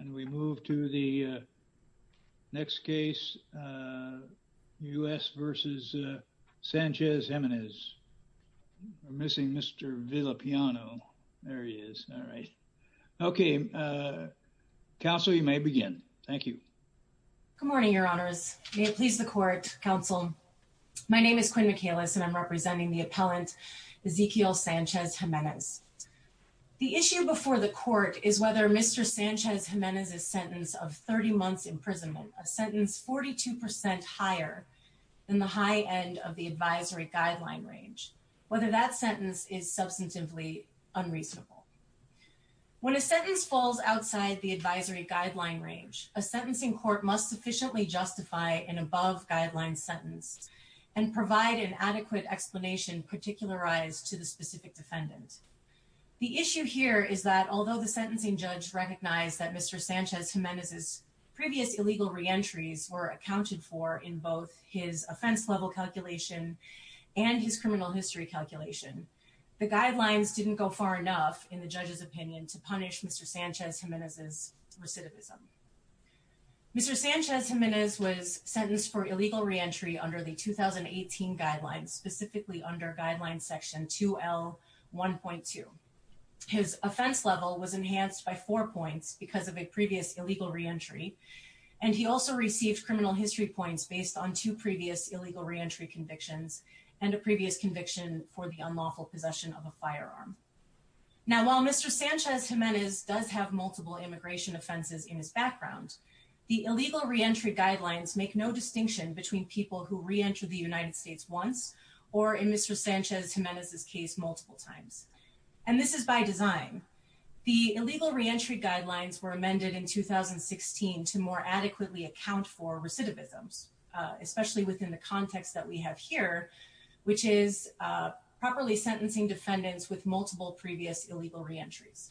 And we move to the next case, U.S. v. Sanchez-Jimenez. We're missing Mr. Villapiano. There he is. All right. Okay. Counsel, you may begin. Thank you. Good morning, Your Honors. May it please the Court, Counsel. My name is Quinn Michalis, and I'm representing the appellant Ezequiel Sanchez-Jimenez. The issue before the Court is whether Mr. Sanchez-Jimenez's sentence of 30 months' imprisonment, a sentence 42 percent higher than the high end of the advisory guideline range, whether that sentence is substantively unreasonable. When a sentence falls outside the advisory guideline range, a sentencing court must sufficiently justify an above-guideline sentence and provide an adequate explanation particularized to the specific defendant. The issue here is that although the sentencing judge recognized that Mr. Sanchez-Jimenez's previous illegal reentries were accounted for in both his offense-level calculation and his criminal history calculation, the guidelines didn't go far enough, in the judge's opinion, to punish Mr. Sanchez-Jimenez's recidivism. Mr. Sanchez-Jimenez was sentenced for illegal reentry under the 2018 guidelines, specifically under guideline section 2L1.2. His offense level was enhanced by four points because of a previous illegal reentry, and he also received criminal history points based on two previous illegal reentry convictions and a previous conviction for the unlawful possession of a firearm. Now, while Mr. Sanchez-Jimenez does have multiple immigration offenses in his background, the illegal reentry guidelines make no distinction between people who reentered the United States once or, in Mr. Sanchez-Jimenez's case, multiple times, and this is by design. The illegal reentry guidelines were amended in 2016 to more adequately account for recidivisms, especially within the context that we have here, which is properly sentencing defendants with multiple previous illegal reentries.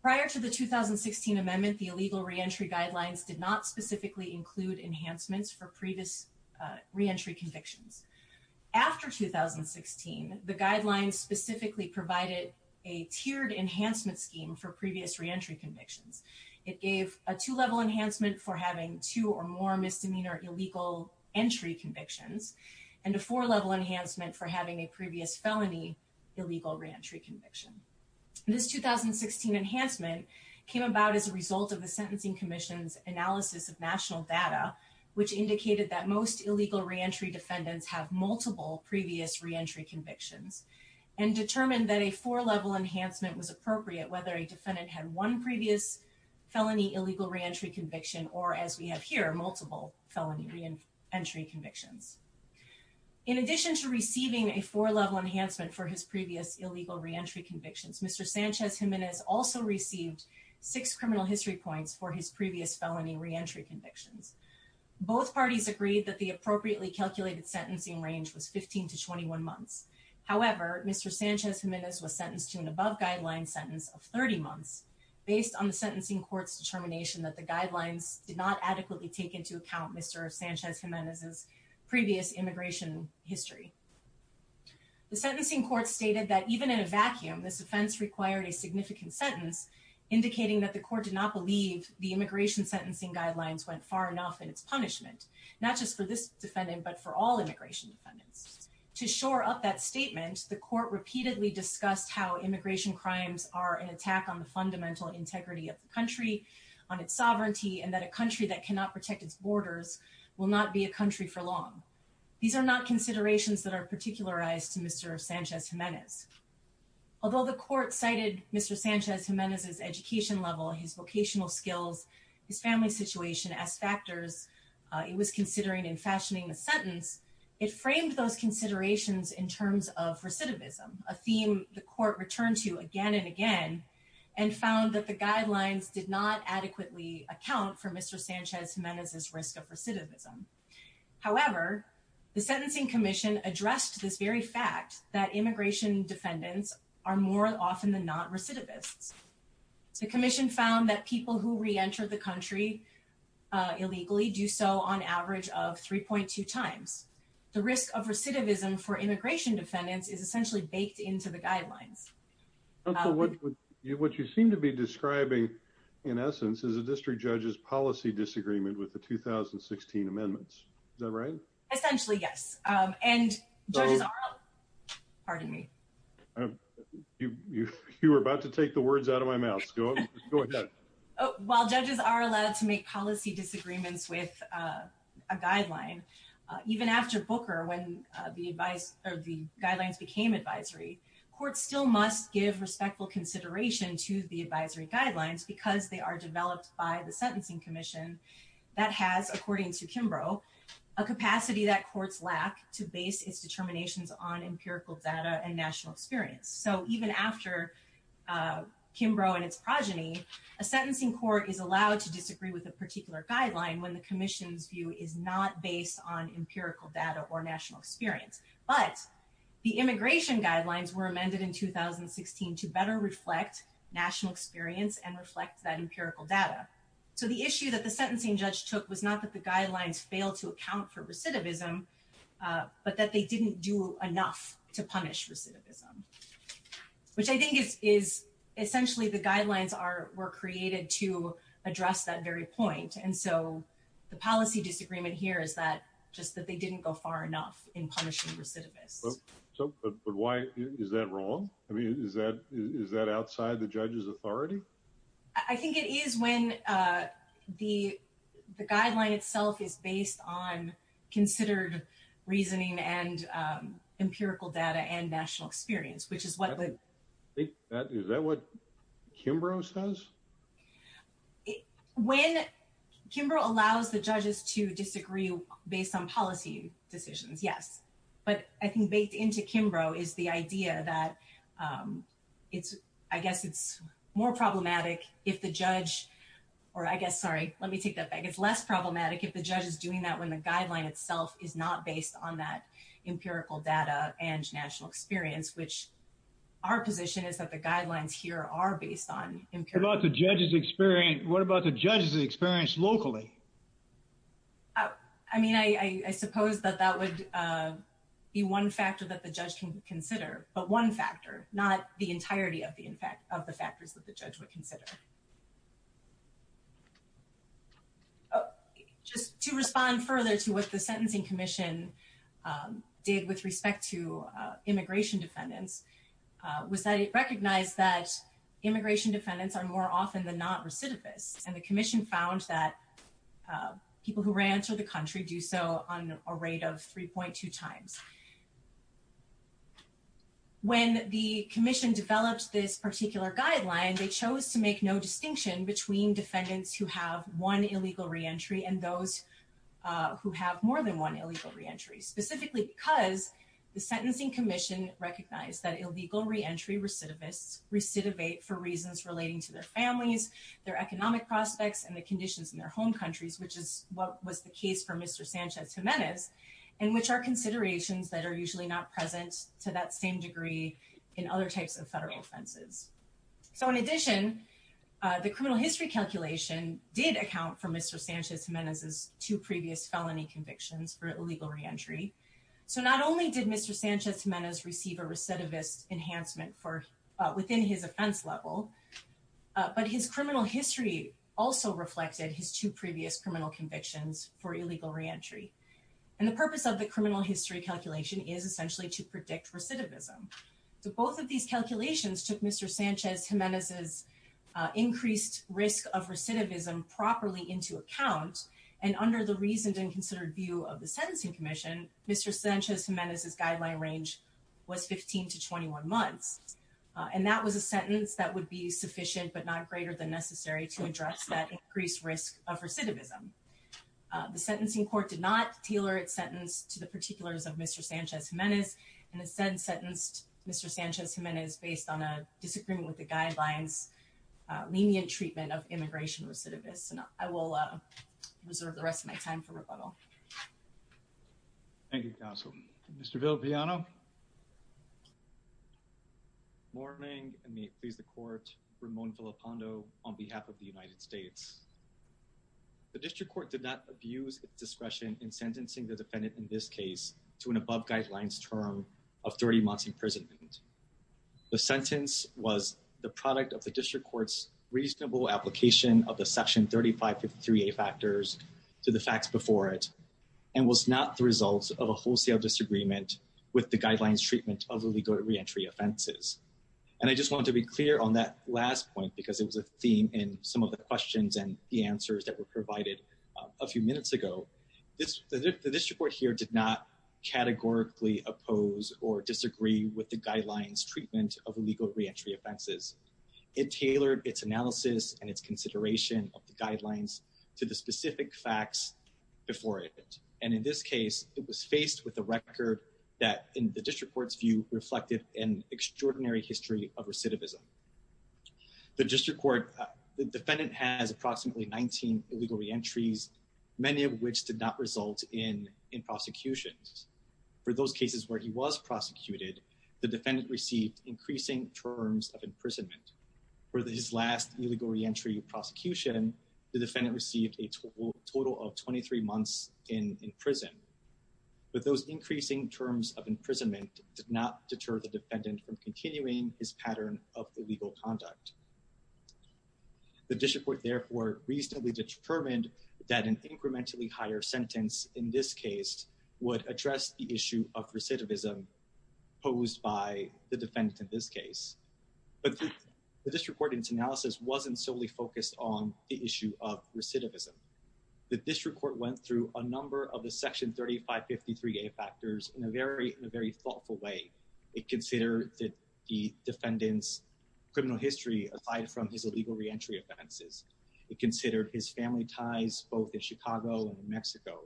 Prior to the 2016 amendment, the illegal reentry guidelines did not specifically include enhancements for previous reentry convictions. After 2016, the guidelines specifically provided a tiered enhancement scheme for previous reentry convictions. It gave a two-level enhancement for having two or more misdemeanor illegal entry convictions and a four-level enhancement for having a previous felony illegal reentry conviction. This 2016 enhancement came about as a result of the Sentencing Commission's analysis of national data, which indicated that most illegal reentry defendants have multiple previous reentry convictions and determined that a four-level enhancement was appropriate, whether a defendant had one previous felony illegal reentry conviction or, as we have here, multiple felony reentry convictions. In addition to receiving a four-level enhancement for his previous illegal reentry convictions, Mr. Sanchez-Jimenez also received six criminal history points for his previous felony reentry convictions. Both parties agreed that the appropriately calculated sentencing range was 15 to 21 months. However, Mr. Sanchez-Jimenez was sentenced to an above-guideline sentence of 30 months based on the sentencing court's determination that the guidelines did not adequately take into account Mr. Sanchez-Jimenez's previous immigration history. The sentencing court stated that even in a vacuum, this offense required a significant sentence, indicating that the court did not believe the immigration sentencing guidelines went far enough in its punishment, not just for this defendant but for all immigration defendants. To shore up that statement, the court repeatedly discussed how immigration crimes are an attack on the fundamental integrity of the country, on its sovereignty, and that a country that cannot protect its borders will not be a country for long. These are not considerations that are particularized to Mr. Sanchez-Jimenez. Although the court cited Mr. Sanchez-Jimenez's education level, his vocational skills, his family situation as factors it was considering in fashioning the sentence, it framed those considerations in terms of recidivism, a theme the court returned to again and again, and found that the guidelines did not adequately account for Mr. Sanchez-Jimenez's risk of recidivism. However, the sentencing commission addressed this very fact that immigration defendants are more often than not recidivists. The commission found that people who reenter the country illegally do so on average of 3.2 times. The risk of recidivism for immigration defendants is essentially baked into the guidelines. What you seem to be describing, in essence, is a district judge's policy disagreement with the 2016 amendments. Is that right? Essentially, yes. Pardon me. You were about to take the words out of my mouth. Go ahead. While judges are allowed to make policy disagreements with a guideline, even after Booker, when the guidelines became advisory, courts still must give respectful consideration to the advisory guidelines because they are developed by the sentencing commission. That has, according to Kimbrough, a capacity that courts lack to base its determinations on empirical data and national experience. So even after Kimbrough and its progeny, a sentencing court is allowed to disagree with a particular guideline when the commission's view is not based on empirical data or national experience. But the immigration guidelines were amended in 2016 to better reflect national experience and reflect that empirical data. So the issue that the sentencing judge took was not that the guidelines failed to account for recidivism, but that they didn't do enough to punish recidivism, which I think is essentially the guidelines were created to address that very point. And so the policy disagreement here is that just that they didn't go far enough in punishing recidivists. But why is that wrong? I mean, is that outside the judge's authority? I think it is when the guideline itself is based on considered reasoning and empirical data and national experience, which is what the. Is that what Kimbrough says? When Kimbrough allows the judges to disagree based on policy decisions, yes. But I think baked into Kimbrough is the idea that it's I guess it's more problematic if the judge or I guess sorry, let me take that back. It's less problematic if the judge is doing that when the guideline itself is not based on that empirical data and national experience, which our position is that the guidelines here are based on the judge's experience. What about the judge's experience locally? I mean, I suppose that that would be one factor that the judge can consider, but one factor, not the entirety of the impact of the factors that the judge would consider. Just to respond further to what the Sentencing Commission did with respect to immigration defendants was that it recognized that immigration defendants are more often than not recidivists. And the commission found that people who ran to the country do so on a rate of 3.2 times. When the commission developed this particular guideline, they chose to make no distinction between defendants who have one illegal reentry and those who have more than one illegal reentry, specifically because the Sentencing Commission recognized that illegal reentry recidivists recidivate for reasons relating to their families, their economic prospects, and the conditions in their home countries, which is what was the case for Mr. Sanchez-Gimenez, and which are considerations that are usually not present to that same degree in other types of federal offenses. So in addition, the criminal history calculation did account for Mr. Sanchez-Gimenez's two previous felony convictions for illegal reentry. So not only did Mr. Sanchez-Gimenez receive a recidivist enhancement within his offense level, but his criminal history also reflected his two previous criminal convictions for illegal reentry. And the purpose of the criminal history calculation is essentially to predict recidivism. So both of these calculations took Mr. Sanchez-Gimenez's increased risk of recidivism properly into account, and under the reasoned and considered view of the Sentencing Commission, Mr. Sanchez-Gimenez's guideline range was 15 to 21 months. And that was a sentence that would be sufficient but not greater than necessary to address that increased risk of recidivism. The sentencing court did not tailor its sentence to the particulars of Mr. Sanchez-Gimenez, and instead sentenced Mr. Sanchez-Gimenez based on a disagreement with the guidelines lenient treatment of immigration recidivists. And I will reserve the rest of my time for rebuttal. Thank you, counsel. Mr. Villalpiano? Good morning, and may it please the court, Ramon Villalpando on behalf of the United States. The district court did not abuse its discretion in sentencing the defendant in this case to an above guidelines term of 30 months' imprisonment. The sentence was the product of the district court's reasonable application of the Section 3553A factors to the facts before it, and was not the result of a wholesale disagreement with the guidelines treatment of illegal reentry offenses. And I just want to be clear on that last point because it was a theme in some of the questions and the answers that were provided a few minutes ago. The district court here did not categorically oppose or disagree with the guidelines treatment of illegal reentry offenses. It tailored its analysis and its consideration of the guidelines to the specific facts before it. And in this case, it was faced with a record that, in the district court's view, reflected an extraordinary history of recidivism. The district court, the defendant has approximately 19 illegal reentries, many of which did not result in prosecutions. For those cases where he was prosecuted, the defendant received increasing terms of imprisonment. For his last illegal reentry prosecution, the defendant received a total of 23 months in prison. But those increasing terms of imprisonment did not deter the defendant from continuing his pattern of illegal conduct. The district court, therefore, reasonably determined that an incrementally higher sentence in this case would address the issue of recidivism posed by the defendant in this case. But the district court's analysis wasn't solely focused on the issue of recidivism. The district court went through a number of the Section 3553A factors in a very thoughtful way. It considered the defendant's criminal history aside from his illegal reentry offenses. It considered his family ties, both in Chicago and in Mexico.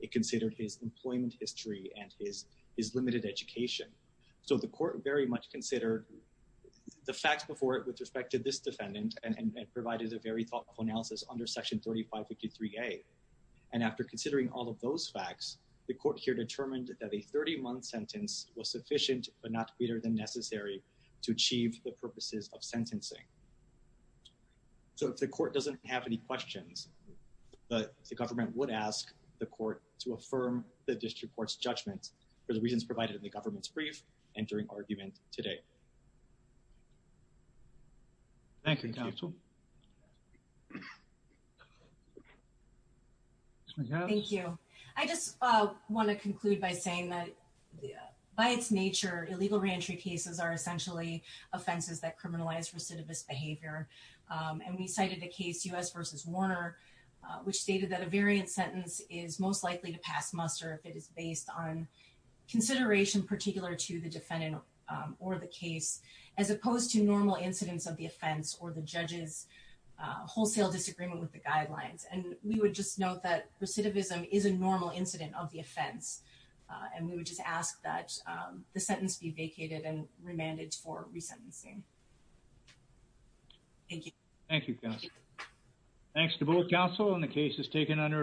It considered his employment history and his limited education. So the court very much considered the facts before it with respect to this defendant and provided a very thoughtful analysis under Section 3553A. And after considering all of those facts, the court here determined that a 30-month sentence was sufficient but not greater than necessary to achieve the purposes of sentencing. So if the court doesn't have any questions, the government would ask the court to affirm the district court's judgment for the reasons provided in the government's brief entering argument today. Thank you. I just want to conclude by saying that by its nature, illegal reentry cases are essentially offenses that criminalize recidivist behavior. And we cited a case, U.S. versus Warner, which stated that a variant sentence is most likely to pass muster if it is based on consideration particular to the defendant or the case, as opposed to normal incidents of the offense or the judge's wholesale disagreement with the guidelines. And we would just note that recidivism is a normal incident of the offense. And we would just ask that the sentence be vacated and remanded for resentencing. Thank you. Thank you, counsel. Thanks to both counsel and the cases taken under advisement.